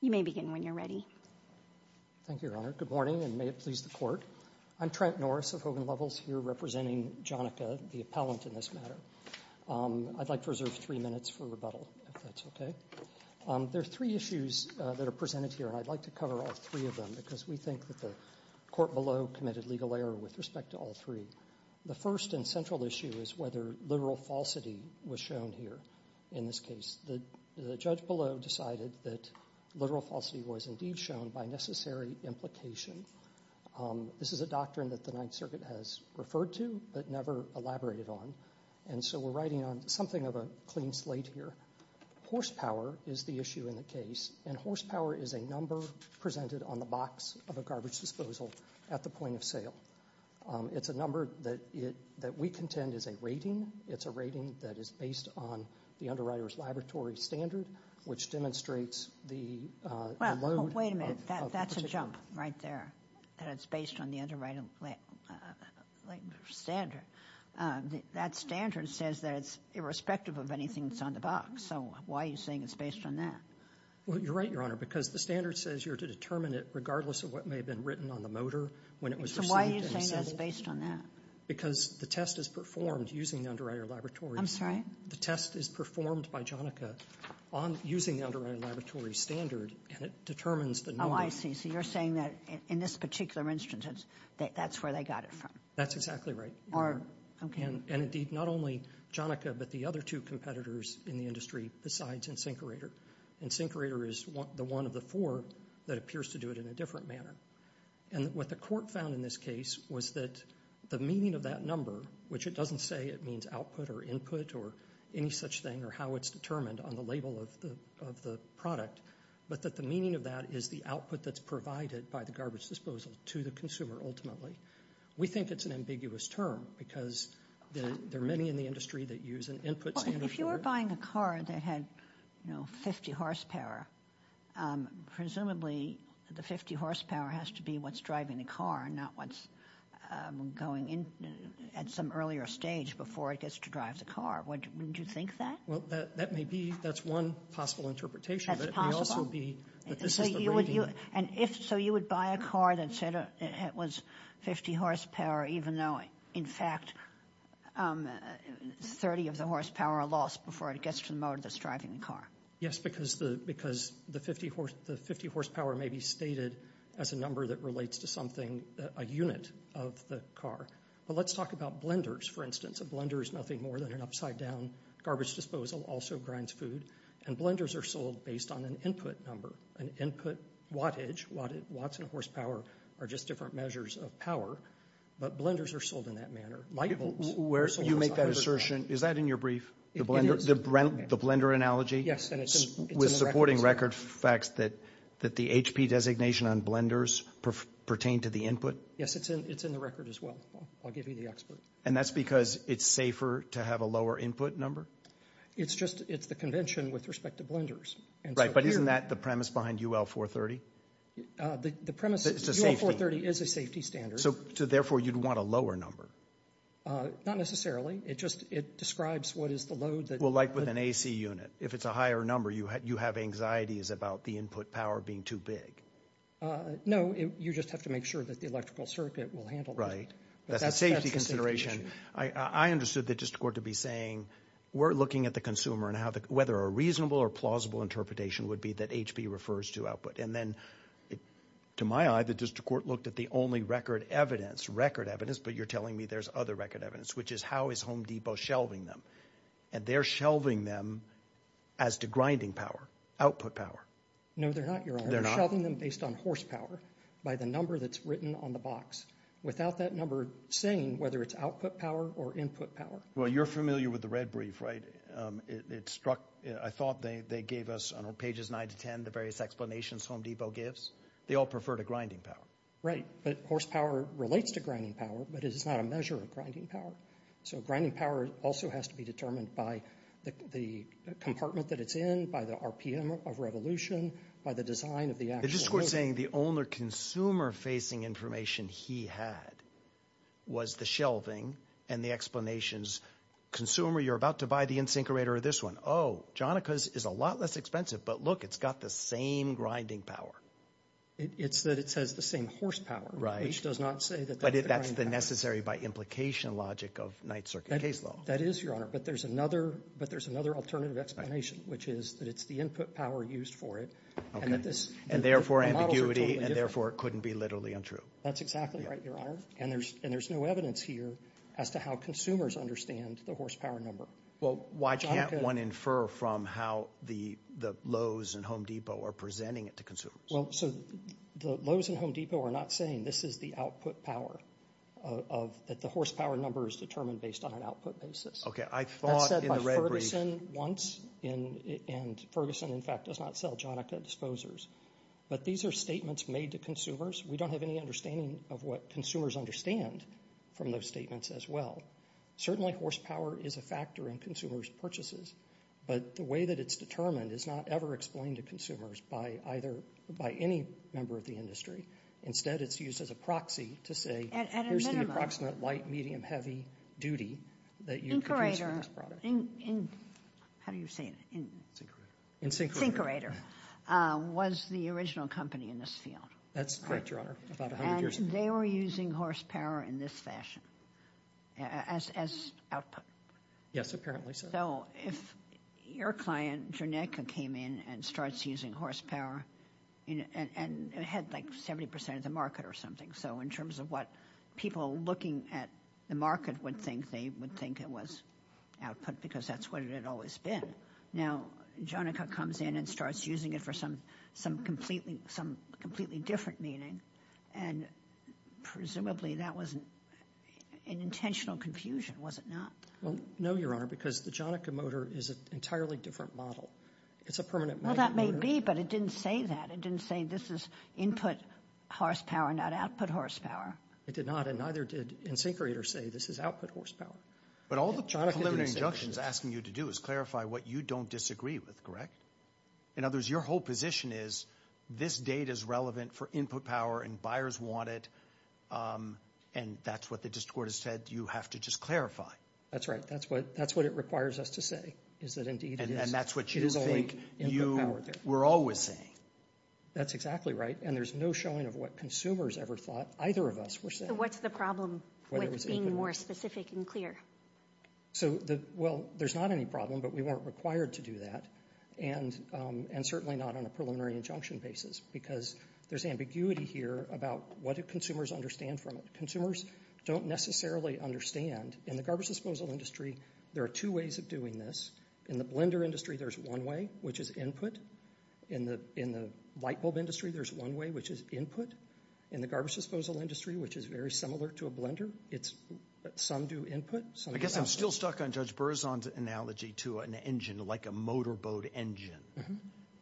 You may begin when you're ready. Thank you, Your Honor. Good morning, and may it please the Court. I'm Trent Norris of Hogan Levels here representing Joneca, the appellant in this matter. I'd like to reserve three minutes for rebuttal, if that's okay. There are three issues that are presented here, and I'd like to cover all three of them, because we think that the court below committed legal error with respect to all three. The first and central issue is whether literal falsity was shown here in this case. The judge below decided that literal falsity was indeed shown by necessary implication. This is a doctrine that the Ninth Circuit has referred to, but never elaborated on, and so we're writing on something of a clean slate here. Horsepower is the issue in the case, and horsepower is a number presented on the box of a garbage disposal at the point of sale. It's a number that we contend is a rating. It's a rating that is based on the underwriter's laboratory standard, which demonstrates the load of the particular. Wait a minute, that's a jump right there, that it's based on the underwriter's standard. That standard says that it's irrespective of anything that's on the box, so why are you saying it's based on that? Well, you're right, Your Honor, because the standard says you're to determine it regardless of what may have been written on the motor when it was received. So why are you saying it's based on that? Because the test is performed using the underwriter's laboratory. I'm sorry? The test is performed by Jonica using the underwriter's laboratory standard, and it determines the load. Oh, I see. So you're saying that in this particular instance, that's where they got it from. That's exactly right. Or, okay. And indeed, not only Jonica, but the other two competitors in the industry besides Insinkerator. Insinkerator is the one of the four that appears to do it in a different manner. And what the court found in this case was that the meaning of that number, which it doesn't say it means output or input or any such thing or how it's determined on the label of the product, but that the meaning of that is the output that's provided by the garbage disposal to the consumer ultimately. We think it's an ambiguous term because there are many in the industry that use an input standard. Well, if you were buying a car that had, you know, 50 horsepower, presumably the 50 horsepower has to be what's driving the car and not what's going in at some earlier stage before it gets to drive the car. Wouldn't that be, that's one possible interpretation. That's possible. But it may also be that this is the rating. So you would buy a car that said it was 50 horsepower even though in fact 30 of the horsepower are lost before it gets to the motor that's driving the car. Yes, because the 50 horsepower may be stated as a number that relates to something, a unit of the car. But let's talk about blenders, for instance. A blender is nothing more than an upside down garbage disposal, also grinds food. And blenders are sold based on an input number, an input wattage, watts and horsepower are just different measures of power. But blenders are sold in that manner. You make that assertion, is that in your brief? The blender analogy? Yes, and it's in the record. With supporting record facts that the HP designation on blenders pertain to the input? Yes, it's in the record as well. I'll give you the expert. And that's because it's safer to have a lower input number? It's just, it's the convention with respect to blenders. Right, but isn't that the premise behind UL 430? The premise is UL 430 is a safety standard. So therefore you'd want a lower number? Not necessarily, it just, it describes what is the load that... Well like with an AC unit, if it's a higher number you have anxieties about the input power being too big. No, you just have to make sure that the electrical circuit will handle it. Right, that's a safety consideration. I understood the district court to be saying, we're looking at the consumer and whether a reasonable or plausible interpretation would be that HP refers to output. And then to my eye the district court looked at the only record evidence, record evidence, but you're telling me there's other record evidence, which is how is Home Depot shelving them? And they're shelving them as to grinding power, output power. No, they're not, you're shelving them based on horsepower, by the number that's written on the box. Without that number saying whether it's output power or input power. Well you're familiar with the red brief, right? It struck, I thought they gave us on pages nine to ten the various explanations Home Depot gives. They all prefer to grinding power. Right, but horsepower relates to grinding power, but it is not a measure of grinding power. So grinding power also has to be determined by the compartment that it's in, by the RPM of revolution, by the design of the actual unit. The district court's saying the only consumer facing information he had was the shelving and the explanations. Consumer, you're about to buy the in-sink orator or this one. Oh, Jonica's is a lot less expensive, but look, it's got the same grinding power. It's that it says the same horsepower. Right. Which does not say that that's the grinding power. But that's the necessary by implication logic of Ninth Circuit case law. That is, Your Honor, but there's another, but there's another alternative explanation, which is that it's the input power used for it. Okay. And that this. And therefore ambiguity and therefore it couldn't be literally untrue. That's exactly right, Your Honor. And there's, and there's no evidence here as to how consumers understand the horsepower number. Well, why can't one infer from how the Lowe's and Home Depot are presenting it to consumers? Well, so the Lowe's and Home Depot are not saying this is the output power of, that the horsepower number is determined based on an output basis. Okay. I thought in the red brief. That's said by Ferguson once and Ferguson, in fact, does not sell Jonica disposers. But these are statements made to consumers. We don't have any understanding of what consumers understand from those statements as well. Certainly horsepower is a factor in consumers' purchases, but the way that it's determined is not ever explained to consumers by either, by any member of the industry. Instead, it's used as a proxy to say, here's the approximate light, medium, heavy duty that you could use for this product. Incorator. How do you say it? Incorator. Incorator was the original company in this field. That's correct, Your Honor. About a hundred years ago. And they were using horsepower in this fashion as output. Yes, apparently so. So if your client, Jonica, came in and starts using horsepower, and it had like 70% of the market or something. So in terms of what people looking at the market would think, they would think it was output because that's what it had always been. Now, Jonica comes in and starts using it for some, some completely, some completely different meaning. And presumably that was an intentional confusion, was it not? Well, no, Your Honor, because the Jonica motor is an entirely different model. It's a permanent motor. Well, that may be, but it didn't say that. It didn't say this is input horsepower, not output horsepower. It did not, and neither did Incorator say this is output horsepower. But all the preliminary injunctions asking you to do is clarify what you don't disagree with, correct? In other words, your whole position is this data is relevant for input power and buyers want it. And that's what the district court has said you have to just clarify. That's right. That's what, that's what it requires us to say, is that indeed it is. And that's what you think you were always saying. That's exactly right. And there's no showing of what consumers ever thought either of us were saying. So what's the problem with being more specific and clear? So the, well, there's not any problem, but we weren't required to do that. And, and certainly not on a preliminary injunction basis, because there's ambiguity here about what do consumers understand from it. Consumers don't necessarily understand, in the garbage disposal industry, there are two ways of doing this. In the blender industry, there's one way, which is input. In the, in the light bulb industry, there's one way, which is input. In the garbage disposal industry, which is very similar to a blender, it's some do input, some do output. I guess I'm still stuck on Judge Berzon's analogy to an engine like a motorboat engine.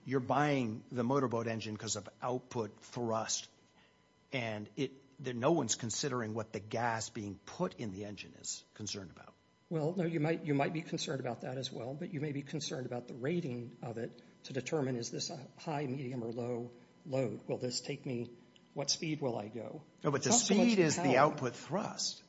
You're buying the motorboat engine because of output thrust and it, no one's considering what the gas being put in the engine is concerned about. Well, no, you might, you might be concerned about that as well, but you may be concerned about the rating of it to determine is this a high, medium, or low load? Will this take me, what speed will I go? No, but the speed is the output thrust.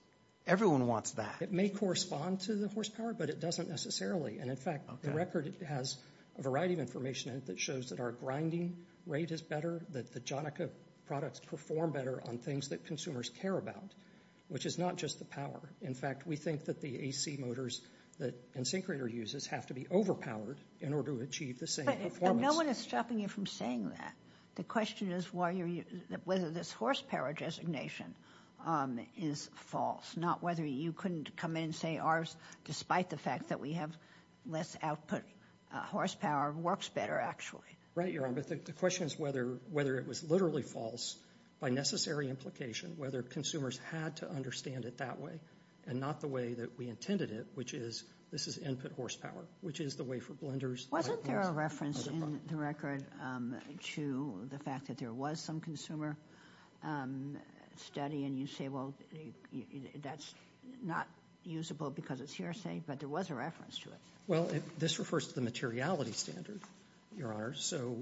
Everyone wants that. It may correspond to the horsepower, but it doesn't necessarily. And in fact, the record has a variety of information that shows that our grinding rate is better, that the Jonica products perform better on things that consumers care about, which is not just the power. In fact, we think that the AC motors that Insyncrator uses have to be overpowered in order to achieve the same performance. But no one is stopping you from saying that. The question is why you're, whether this horsepower designation is false, not whether you couldn't come in and say ours, despite the fact that we have less output horsepower, works better actually. Right, you're right, but the question is whether, whether it was literally false by necessary implication, whether consumers had to understand it that way and not the way that we intended it, which is, this is input horsepower, which is the way for blenders. Wasn't there a reference in the record to the fact that there was some consumer study and you say, well, that's not usable because it's hearsay, but there was a reference to it. Well, this refers to the materiality standard, Your Honor. So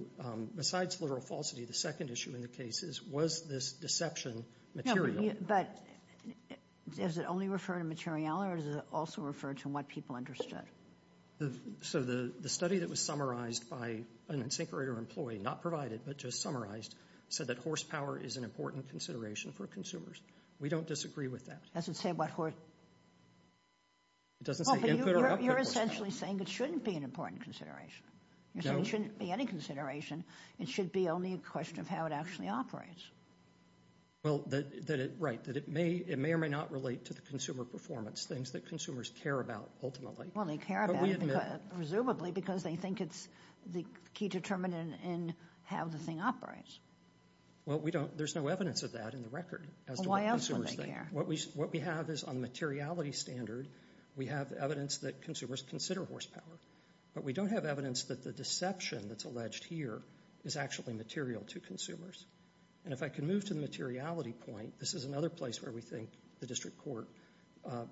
besides literal falsity, the second issue in the case is, was this deception material? But does it only refer to materiality, or does it also refer to what people understood? So the study that was summarized by an Insyncrator employee, not provided, but just summarized, said that horsepower is an important consideration for consumers. We don't disagree with that. It doesn't say what horsepower, it doesn't say input or output. You're essentially saying it shouldn't be an important consideration. You're saying it shouldn't be any consideration. It should be only a question of how it actually operates. Well, that, that it, right, that it may, it may or may not relate to the consumer performance things that consumers care about ultimately. Well, they care about it presumably because they think it's the key determinant in how the thing operates. Well, we don't, there's no evidence of that in the record. Well, why else wouldn't they care? What we, what we have is on the materiality standard, we have evidence that consumers consider horsepower, but we don't have evidence that the deception that's alleged here is actually material to consumers. And if I can move to the materiality point, this is another place where we think the District Court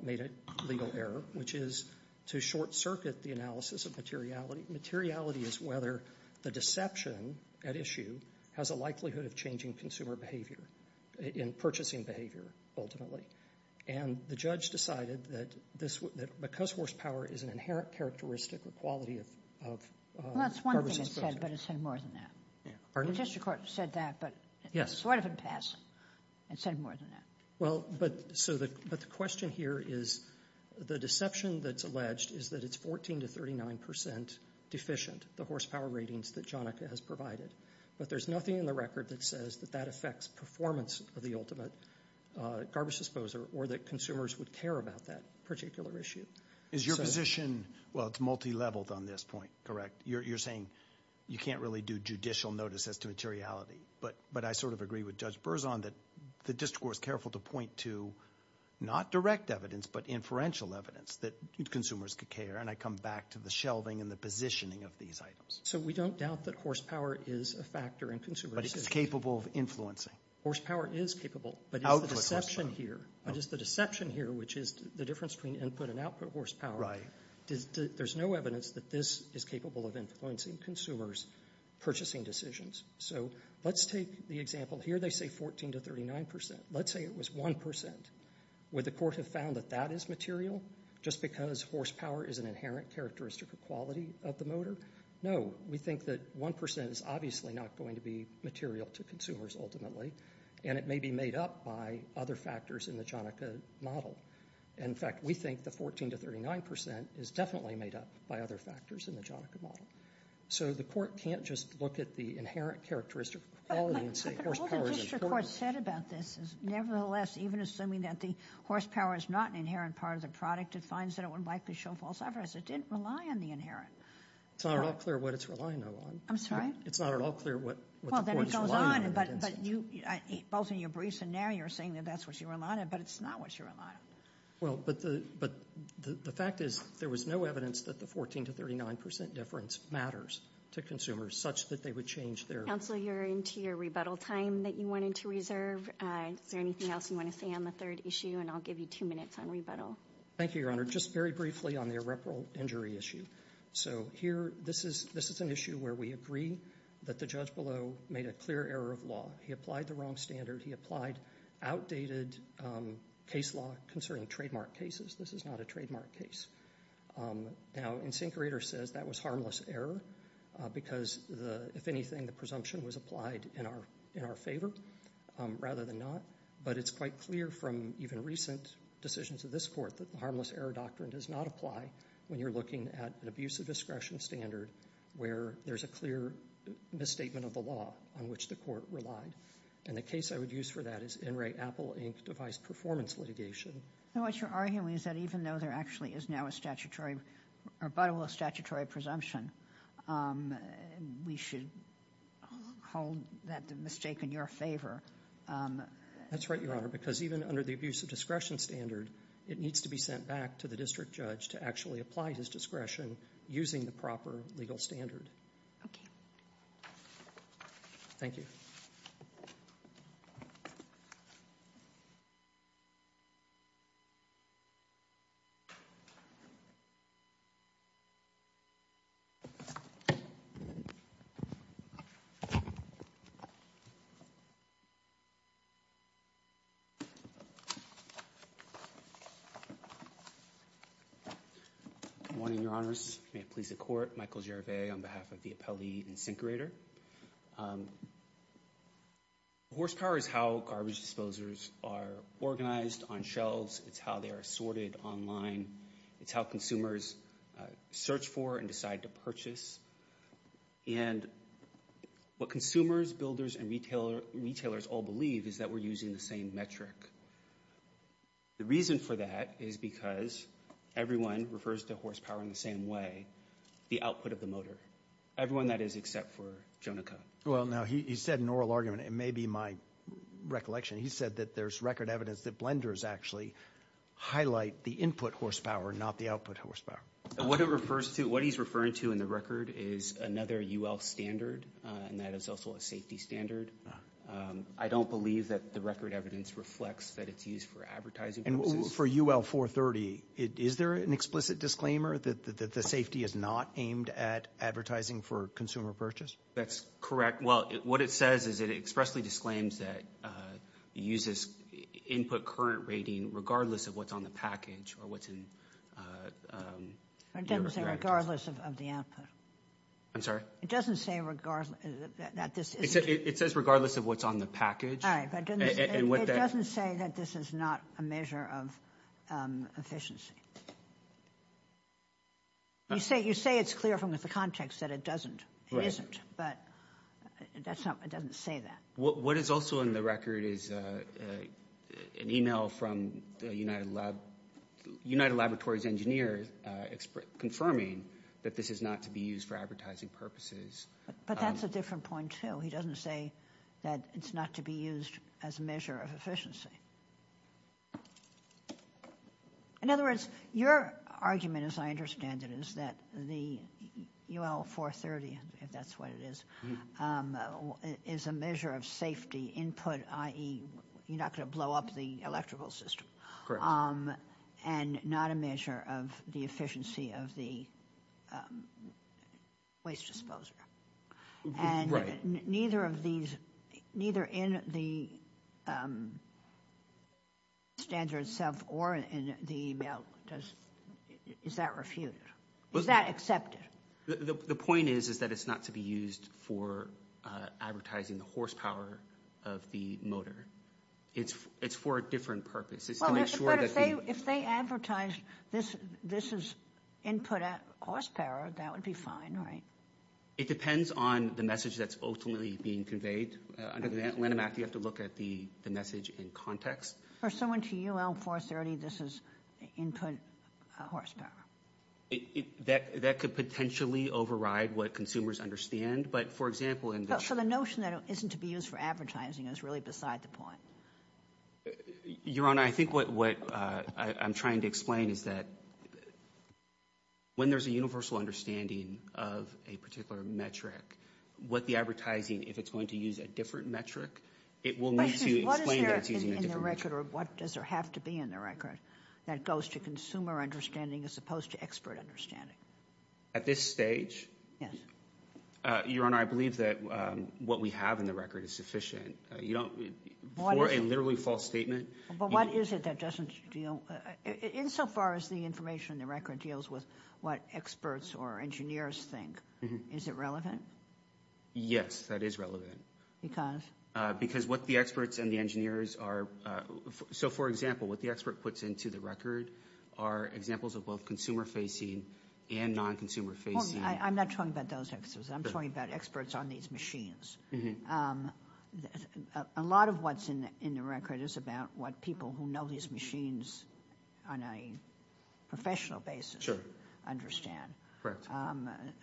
made a legal error, which is to short circuit the analysis of materiality. Materiality is whether the deception at issue has a likelihood of changing consumer behavior in purchasing behavior ultimately. And the judge decided that this, that because horsepower is an inherent characteristic or quality of, of, of... Well, that's one thing it said, but it said more than that. Pardon? The District Court said that, but... Yes. Sort of in passing, it said more than that. Well, but so the, but the question here is the deception that's alleged is that it's 14 to 39 percent deficient, the horsepower ratings that Jonica has provided. But there's nothing in the record that says that that affects performance of the ultimate garbage disposer or that consumers would care about that particular issue. Is your position, well, it's multi-leveled on this point, correct? You're, you're saying you can't really do judicial notice as to materiality, but, but I sort of agree with Judge Berzon that the District Court was careful to point to not direct evidence, but inferential evidence that consumers could care. And I come back to the shelving and the positioning of these items. So we don't doubt that horsepower is a factor in consumer decisions. But it's capable of influencing. Horsepower is capable, but it's the deception here, but it's the deception here, which is the difference between input and output horsepower. Right. There's no evidence that this is capable of influencing consumers' purchasing decisions. So let's take the example here. They say 14 to 39 percent. Let's say it was 1 percent. Would the court have found that that is material just because horsepower is an inherent characteristic or quality of the motor? No. We think that 1 percent is obviously not going to be material to consumers ultimately. And it may be made up by other factors in the Jonica model. In fact, we think the 14 to 39 percent is definitely made up by other factors in the Jonica model. So the court can't just look at the inherent characteristic of quality and say horsepower is a product. But what the district court said about this is nevertheless, even assuming that the horsepower is not an inherent part of the product, it finds that it would likely show false evidence. It didn't rely on the inherent. It's not at all clear what it's relying on. I'm sorry? It's not at all clear what the court is relying on. Well, then it goes on, but both in your briefs and now you're saying that that's what you're relying on, but it's not what you're relying on. Well, but the fact is there was no evidence that the 14 to 39 percent difference matters to consumers such that they would change their- Counselor, you're into your rebuttal time that you wanted to reserve. Is there anything else you want to say on the third issue? And I'll give you two minutes on rebuttal. Thank you, Your Honor. Just very briefly on the irreparable injury issue. So here, this is an issue where we agree that the judge below made a clear error of law. He applied the wrong standard. He applied outdated case law concerning trademark cases. This is not a trademark case. Now, Insinkerator says that was harmless error because, if anything, the presumption was applied in our favor rather than not. But it's quite clear from even recent decisions of this court that the harmless error doctrine does not apply when you're looking at an abuse of discretion standard where there's a clear misstatement of the law on which the court relied. And the case I would use for that is NRA Apple Inc. device performance litigation. And what you're arguing is that even though there actually is now a statutory rebuttal, a statutory presumption, we should hold that mistake in your favor. That's right, Your Honor, because even under the abuse of discretion standard, it needs to be sent back to the district judge to actually apply his discretion using the proper legal standard. Okay. Thank you. Good morning, Your Honors. May it please the court, Michael Gervais on behalf of the NRA, I'm here to ask a question about the way in which garbage disposers are organized on shelves. It's how they are sorted online. It's how consumers search for and decide to purchase. And what consumers, builders, and retailers all believe is that we're using the same metric. The reason for that is because everyone refers to horsepower in the same way, the output of the motor, everyone that is except for Jonica. Well, now, he said an oral argument. It may be my recollection. He said that there's record evidence that blenders actually highlight the input horsepower, not the output horsepower. What he's referring to in the record is another UL standard, and that is also a safety standard. I don't believe that the record evidence reflects that it's used for advertising purposes. For UL 430, is there an explicit disclaimer that the safety is not aimed at advertising for consumer purchase? That's correct. Well, what it says is it expressly disclaims that it uses input current rating regardless of what's on the package or what's in your records. It doesn't say regardless of the output. I'm sorry? It doesn't say regardless that this isn't. It says regardless of what's on the package. All right, but it doesn't say that this is not a measure of efficiency. You say it's clear from the context that it doesn't. It isn't, but it doesn't say that. What is also in the record is an email from the United Laboratories engineer confirming that this is not to be used for advertising purposes. But that's a different point, too. He doesn't say that it's not to be used as a measure of efficiency. In other words, your argument, as I understand it, is that the UL 430, if that's what it is, is a measure of safety input, i.e., you're not going to blow up the electrical system. Correct. And not a measure of the efficiency of the waste disposer. Right. Neither of these, neither in the standard itself or in the email does, is that refuted? Was that accepted? The point is, is that it's not to be used for advertising the horsepower of the motor. It's for a different purpose. It's to make sure that they... If they advertise this is input horsepower, that would be fine, right? It depends on the message that's ultimately being conveyed. Under the Lanham Act, you have to look at the message in context. For someone to UL 430, this is input horsepower. That could potentially override what consumers understand. But for example... So the notion that it isn't to be used for advertising is really beside the point. Your Honor, I think what I'm trying to explain is that when there's a universal understanding of a particular metric, what the advertising, if it's going to use a different metric, it will need to explain that it's using a different metric. What is there in the record or what does there have to be in the record that goes to consumer understanding as opposed to expert understanding? At this stage? Yes. Your Honor, I believe that what we have in the record is sufficient. You don't... For a literally false statement... But what is it that doesn't... Insofar as the information in the record deals with what experts or engineers think, is it relevant? Yes, that is relevant. Because what the experts and the engineers are... So for example, what the expert puts into the record are examples of both consumer-facing and non-consumer-facing... I'm not talking about those experts. I'm talking about experts on these machines. A lot of what's in the record is about what people who know these machines on a professional basis understand.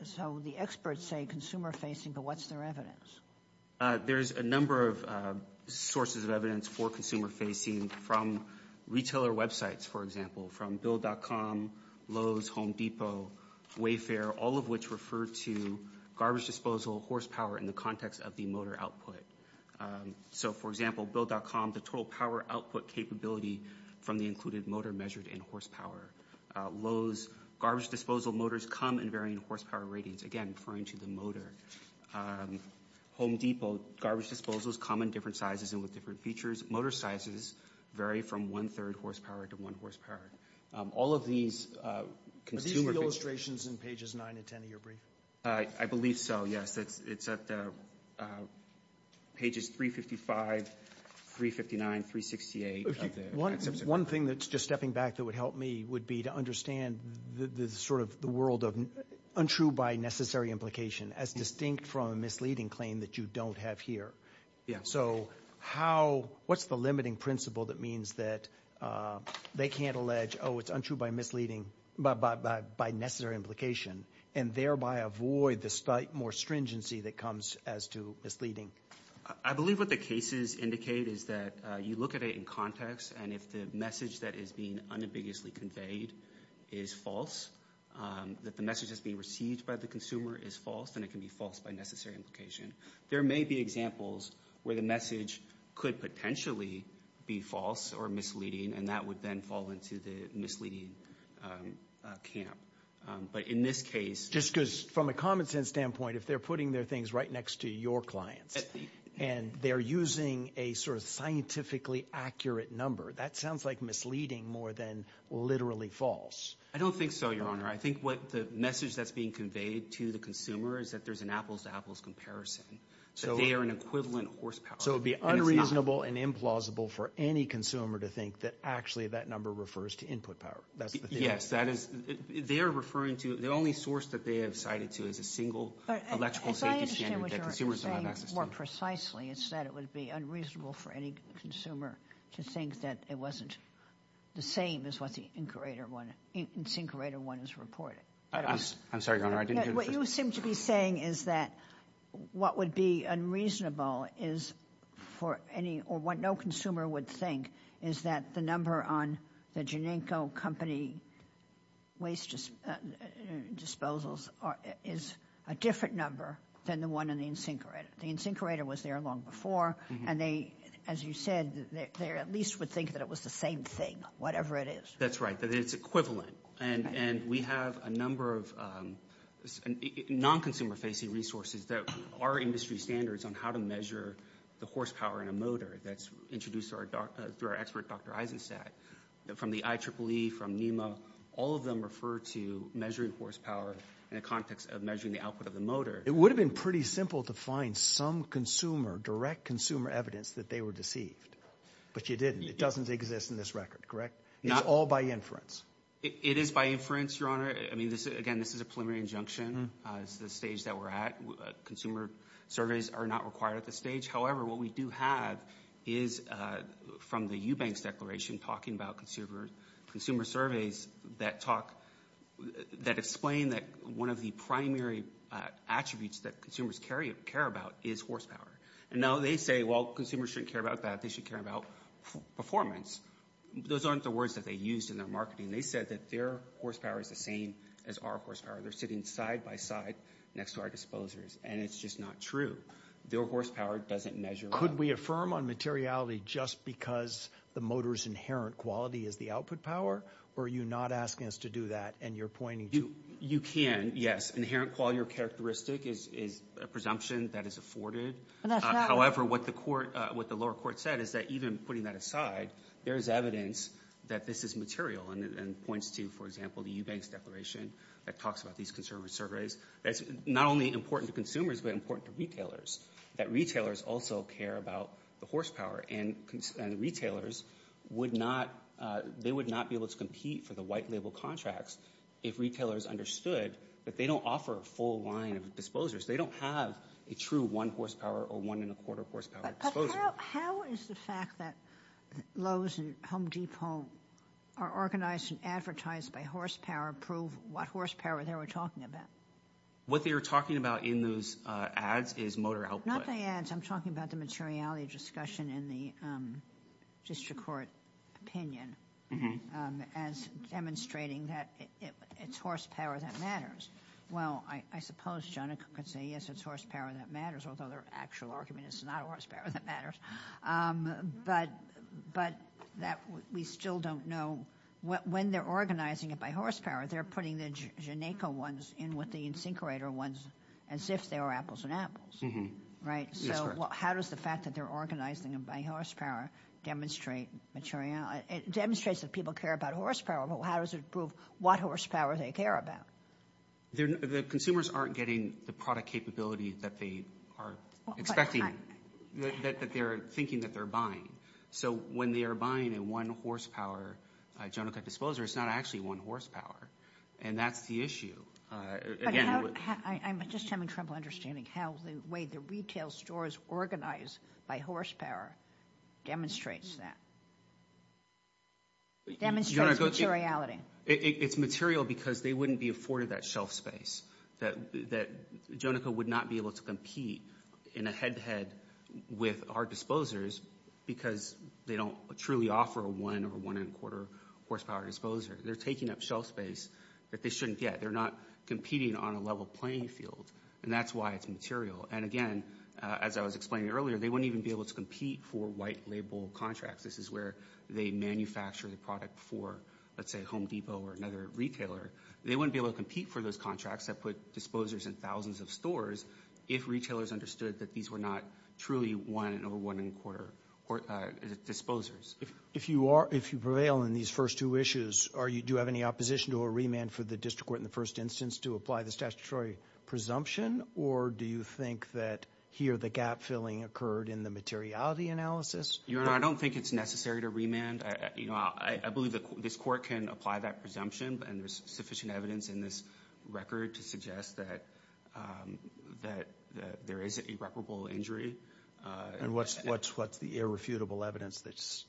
So the experts say consumer-facing, but what's their evidence? There's a number of sources of evidence for consumer-facing from retailer websites, for example, from build.com, Lowe's, Home Depot, Wayfair, all of which refer to garbage disposal, horsepower in the context of the motor output. So for example, build.com, the total power output capability from the included motor measured in horsepower. Lowe's, garbage disposal motors come in varying horsepower ratings. Again, referring to the motor. Home Depot, garbage disposals come in different sizes and with different features. Motor sizes vary from one-third horsepower to one horsepower. All of these consumer... Are these the illustrations in pages 9 to 10 of your brief? I believe so, yes. It's at pages 355, 359, 368 of the... One thing that's just stepping back that would help me would be to understand the world of untrue by necessary implication as distinct from a misleading claim that you don't have here. So what's the limiting principle that means that they can't allege, oh, it's untrue by necessary implication and thereby avoid the slight more stringency that comes as to misleading? I believe what the cases indicate is that you look at it in context and if the message that is being unambiguously conveyed is false, that the message that's being received by the consumer is false, then it can be false by necessary implication. There may be examples where the message could potentially be false or misleading and that would then fall into the misleading camp. But in this case... Just because from a common sense standpoint, if they're putting their things right next to your clients... And they're using a sort of scientifically accurate number, that sounds like misleading more than literally false. I don't think so, Your Honor. I think what the message that's being conveyed to the consumer is that there's an apples-to-apples comparison. So they are an equivalent horsepower. So it'd be unreasonable and implausible for any consumer to think that actually that number refers to input power. That's the thing. Yes, that is... They are referring to... The only source that they have cited to is a single electrical safety standard more precisely. It's that it would be unreasonable for any consumer to think that it wasn't the same as what the incinerator one is reporting. I'm sorry, Your Honor. I didn't hear the first... What you seem to be saying is that what would be unreasonable is for any... Or what no consumer would think is that the number on the Genenko company waste disposals is a different number than the one in the incinerator. The incinerator was there long before. And they, as you said, they at least would think that it was the same thing, whatever it is. That's right. It's equivalent. And we have a number of non-consumer facing resources that are industry standards on how to measure the horsepower in a motor. That's introduced through our expert, Dr. Eisenstadt, from the IEEE, from NEMA. All of them refer to measuring horsepower in a context of measuring the output of the motor. It would have been pretty simple to find some consumer, direct consumer evidence that they were deceived. But you didn't. It doesn't exist in this record, correct? It's all by inference. It is by inference, Your Honor. I mean, again, this is a preliminary injunction. It's the stage that we're at. Consumer surveys are not required at this stage. However, what we do have is, from the Eubanks Declaration, talking about consumer surveys that talk, that explain that one of the primary attributes that consumers care about is horsepower. And now they say, well, consumers shouldn't care about that. They should care about performance. Those aren't the words that they used in their marketing. They said that their horsepower is the same as our horsepower. They're sitting side by side next to our disposers. And it's just not true. Their horsepower doesn't measure. Could we affirm on materiality just because the motor's inherent quality is the output power? Or are you not asking us to do that and you're pointing to? You can, yes. Inherent quality or characteristic is a presumption that is afforded. However, what the lower court said is that even putting that aside, there is evidence that this is material. And it points to, for example, the Eubanks Declaration that talks about these consumer surveys. That's not only important to consumers, but important to retailers. That retailers also care about the horsepower. And retailers would not, they would not be able to compete for the white label contracts if retailers understood that they don't offer a full line of disposers. They don't have a true one horsepower or one and a quarter horsepower disposal. How is the fact that Lowe's and Home Depot are organized and advertised by horsepower prove what horsepower they were talking about? What they were talking about in those ads is motor output. Not the ads. I'm talking about the materiality of discussion in the district court opinion. As demonstrating that it's horsepower that matters. Well, I suppose, John, I could say, yes, it's horsepower that matters. Although their actual argument is not horsepower that matters. But that we still don't know when they're organizing it by horsepower, they're putting the Geneco ones in with the insincorator ones as if they were apples and apples. Right. So how does the fact that they're organizing them by horsepower demonstrate materiality? It demonstrates that people care about horsepower, but how does it prove what horsepower they care about? The consumers aren't getting the product capability that they are expecting, that they're thinking that they're buying. So when they are buying a one horsepower Jonica disposer, it's not actually one horsepower. And that's the issue. I'm just having trouble understanding how the way the retail stores organize by horsepower demonstrates that. Demonstrates materiality. It's material because they wouldn't be afforded that shelf space. That that Jonica would not be able to compete in a head to head with our disposers because they don't truly offer a one or one and a quarter horsepower disposer. They're taking up shelf space that they shouldn't get. They're not competing on a level playing field. And that's why it's material. And again, as I was explaining earlier, they wouldn't even be able to compete for white label contracts. This is where they manufacture the product for, let's say, Home Depot or another retailer. They wouldn't be able to compete for those contracts that put disposers in thousands of stores if retailers understood that these were not truly one or one and a quarter disposers. If you are, if you prevail in these first two issues, are you, do you have any opposition to a remand for the district court in the first instance to apply the statutory presumption? Or do you think that here the gap filling occurred in the materiality analysis? Your Honor, I don't think it's necessary to remand. You know, I believe that this court can apply that presumption and there's sufficient evidence in this record to suggest that there is an irreparable injury. And what's the irrefutable evidence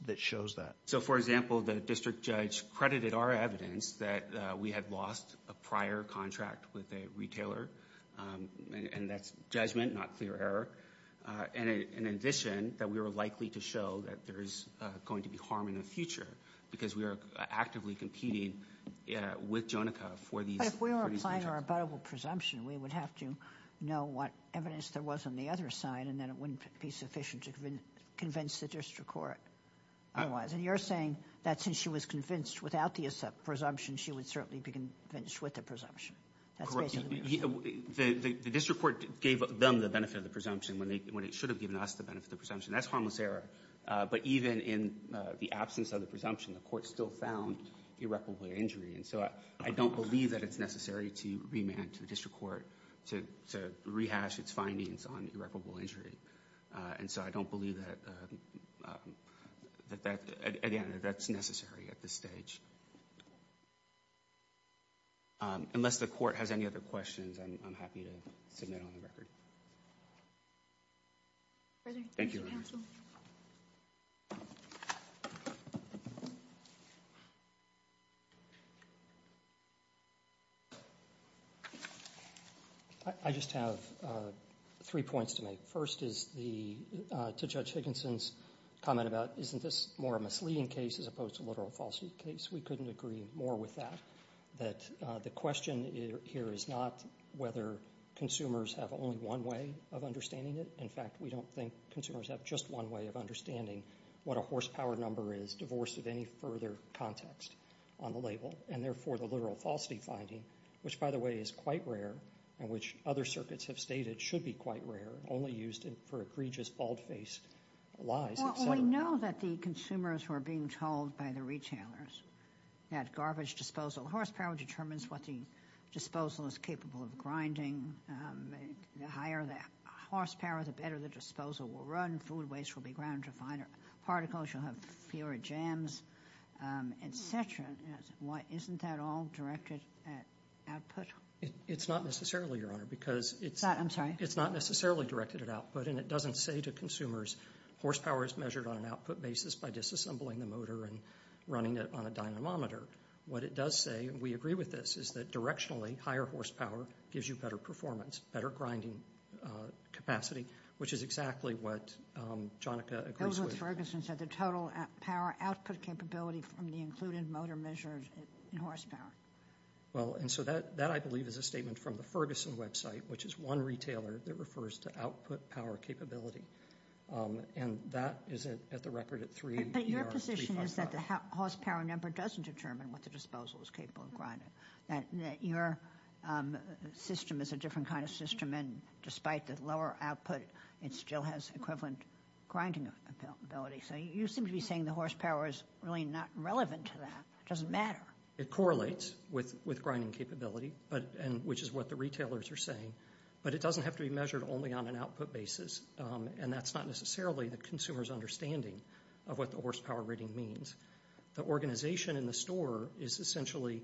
that shows that? So, for example, the district judge credited our evidence that we had lost a prior contract with a retailer. And that's judgment, not clear error. And in addition, that we were likely to show that there is going to be harm in the future because we are actively competing with Jonica for these. But if we were applying our abuttable presumption, we would have to know what evidence there was on the other side and then it wouldn't be sufficient to convince the district court otherwise. And you're saying that since she was convinced without the presumption, she would certainly be convinced with the presumption. That's basically what you're saying. The district court gave them the benefit of the presumption when it should have given us the benefit of the presumption. That's harmless error. But even in the absence of the presumption, the court still found irreparable injury. And so I don't believe that it's necessary to remand to the district court to rehash its findings on irreparable injury. And so I don't believe that, at the end of it, that's necessary at this stage. Unless the court has any other questions, I'm happy to submit on the record. Thank you. I just have three points to make. First is the, to Judge Higginson's comment about, isn't this more of misleading case as opposed to literal falsity case? We couldn't agree more with that. That the question here is not whether consumers have only one way of understanding it. In fact, we don't think consumers have just one way of understanding what a horsepower number is divorced of any further context on the label. And therefore, the literal falsity finding, which, by the way, is quite rare, and which other circuits have stated should be quite rare, only used for egregious, bald-faced lies, etc. We know that the consumers were being told by the retailers that garbage disposal, horsepower determines what the disposal is capable of grinding. The higher the horsepower, the better the disposal will run. Food waste will be ground to finer particles. You'll have fewer jams, etc. Isn't that all directed at output? It's not necessarily, Your Honor, because it's not necessarily directed at output. And it doesn't say to consumers, horsepower is measured on an output basis by disassembling the motor and running it on a dynamometer. What it does say, and we agree with this, is that directionally, higher horsepower gives you better performance, better grinding capacity, which is exactly what Jonica agrees with. That was what Ferguson said, the total power output capability from the included motor measured in horsepower. Well, and so that, I believe, is a statement from the Ferguson website, which is one retailer that refers to output power capability. And that is at the record at 3. But your position is that the horsepower number doesn't determine what the disposal is capable of grinding. That your system is a different kind of system, and despite the lower output, it still has equivalent grinding ability. So you seem to be saying the horsepower is really not relevant to that. It doesn't matter. It correlates with grinding capability, which is what the retailers are saying. But it doesn't have to be measured only on an output basis. And that's not necessarily the consumer's understanding of what the horsepower rating means. The organization in the store is essentially,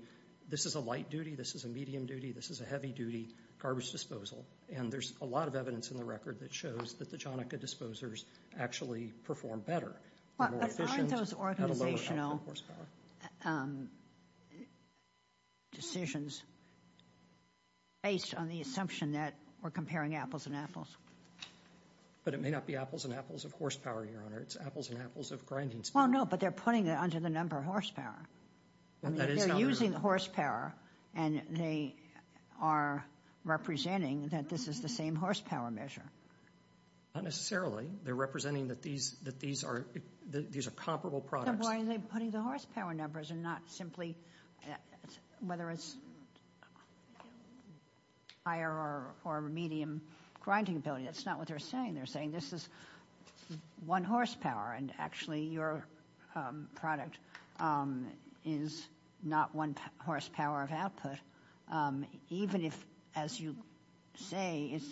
this is a light duty, this is a medium duty, this is a heavy duty garbage disposal. And there's a lot of evidence in the record that shows that the Jonica disposers actually perform better. But aren't those organizational decisions based on the assumption that we're comparing apples and apples? But it may not be apples and apples of horsepower, Your Honor. It's apples and apples of grinding speed. Well, no, but they're putting it under the number of horsepower. I mean, they're using the horsepower, and they are representing that this is the same horsepower measure. Not necessarily. They're representing that these are comparable products. Then why are they putting the horsepower numbers and not simply, whether it's higher or medium grinding ability? That's not what they're saying. They're saying this is one horsepower. And actually, your product is not one horsepower of output, even if, as you say, it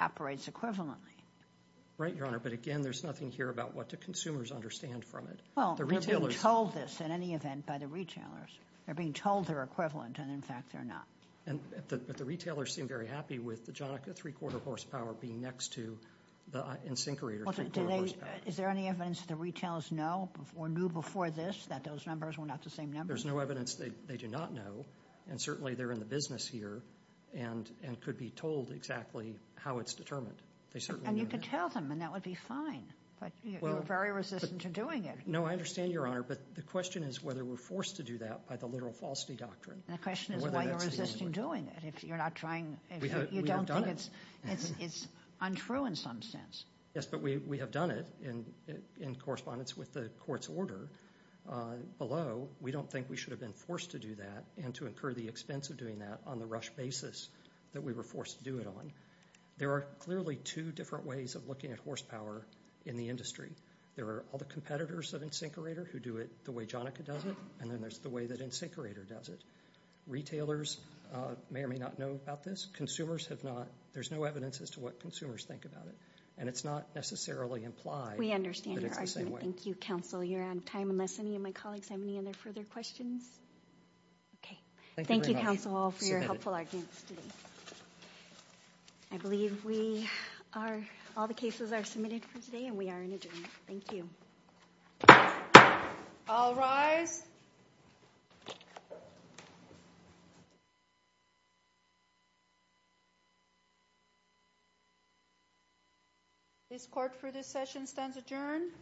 operates equivalently. Right, Your Honor. But again, there's nothing here about what the consumers understand from it. Well, they're being told this in any event by the retailers. They're being told they're equivalent, and in fact, they're not. But the retailers seem very happy with the Jonica three-quarter horsepower being next to the Insinkerator three-quarter horsepower. Is there any evidence the retailers know or knew before this that those numbers were not the same number? There's no evidence they do not know. And certainly, they're in the business here and could be told exactly how it's determined. They certainly know that. And you could tell them, and that would be fine. But you're very resistant to doing it. No, I understand, Your Honor. But the question is whether we're forced to do that by the literal falsity doctrine. The question is why you're resisting doing it. If you're not trying, you don't think it's untrue in some sense. Yes, but we have done it in correspondence with the court's order. Below, we don't think we should have been forced to do that and to incur the expense of doing that on the rush basis that we were forced to do it on. There are clearly two different ways of looking at horsepower in the industry. There are all the competitors of Insinkerator who do it the way Jonica does it, and then there's the way that Insinkerator does it. Retailers may or may not know about this. Consumers have not. There's no evidence as to what consumers think about it. And it's not necessarily implied that it's the same way. We understand your argument. Thank you, counsel. You're on time unless any of my colleagues have any other further questions. Okay. Thank you, counsel, all for your helpful arguments today. I believe we are, all the cases are submitted for today and we are in adjournment. Thank you. All rise. The court for this session stands adjourned.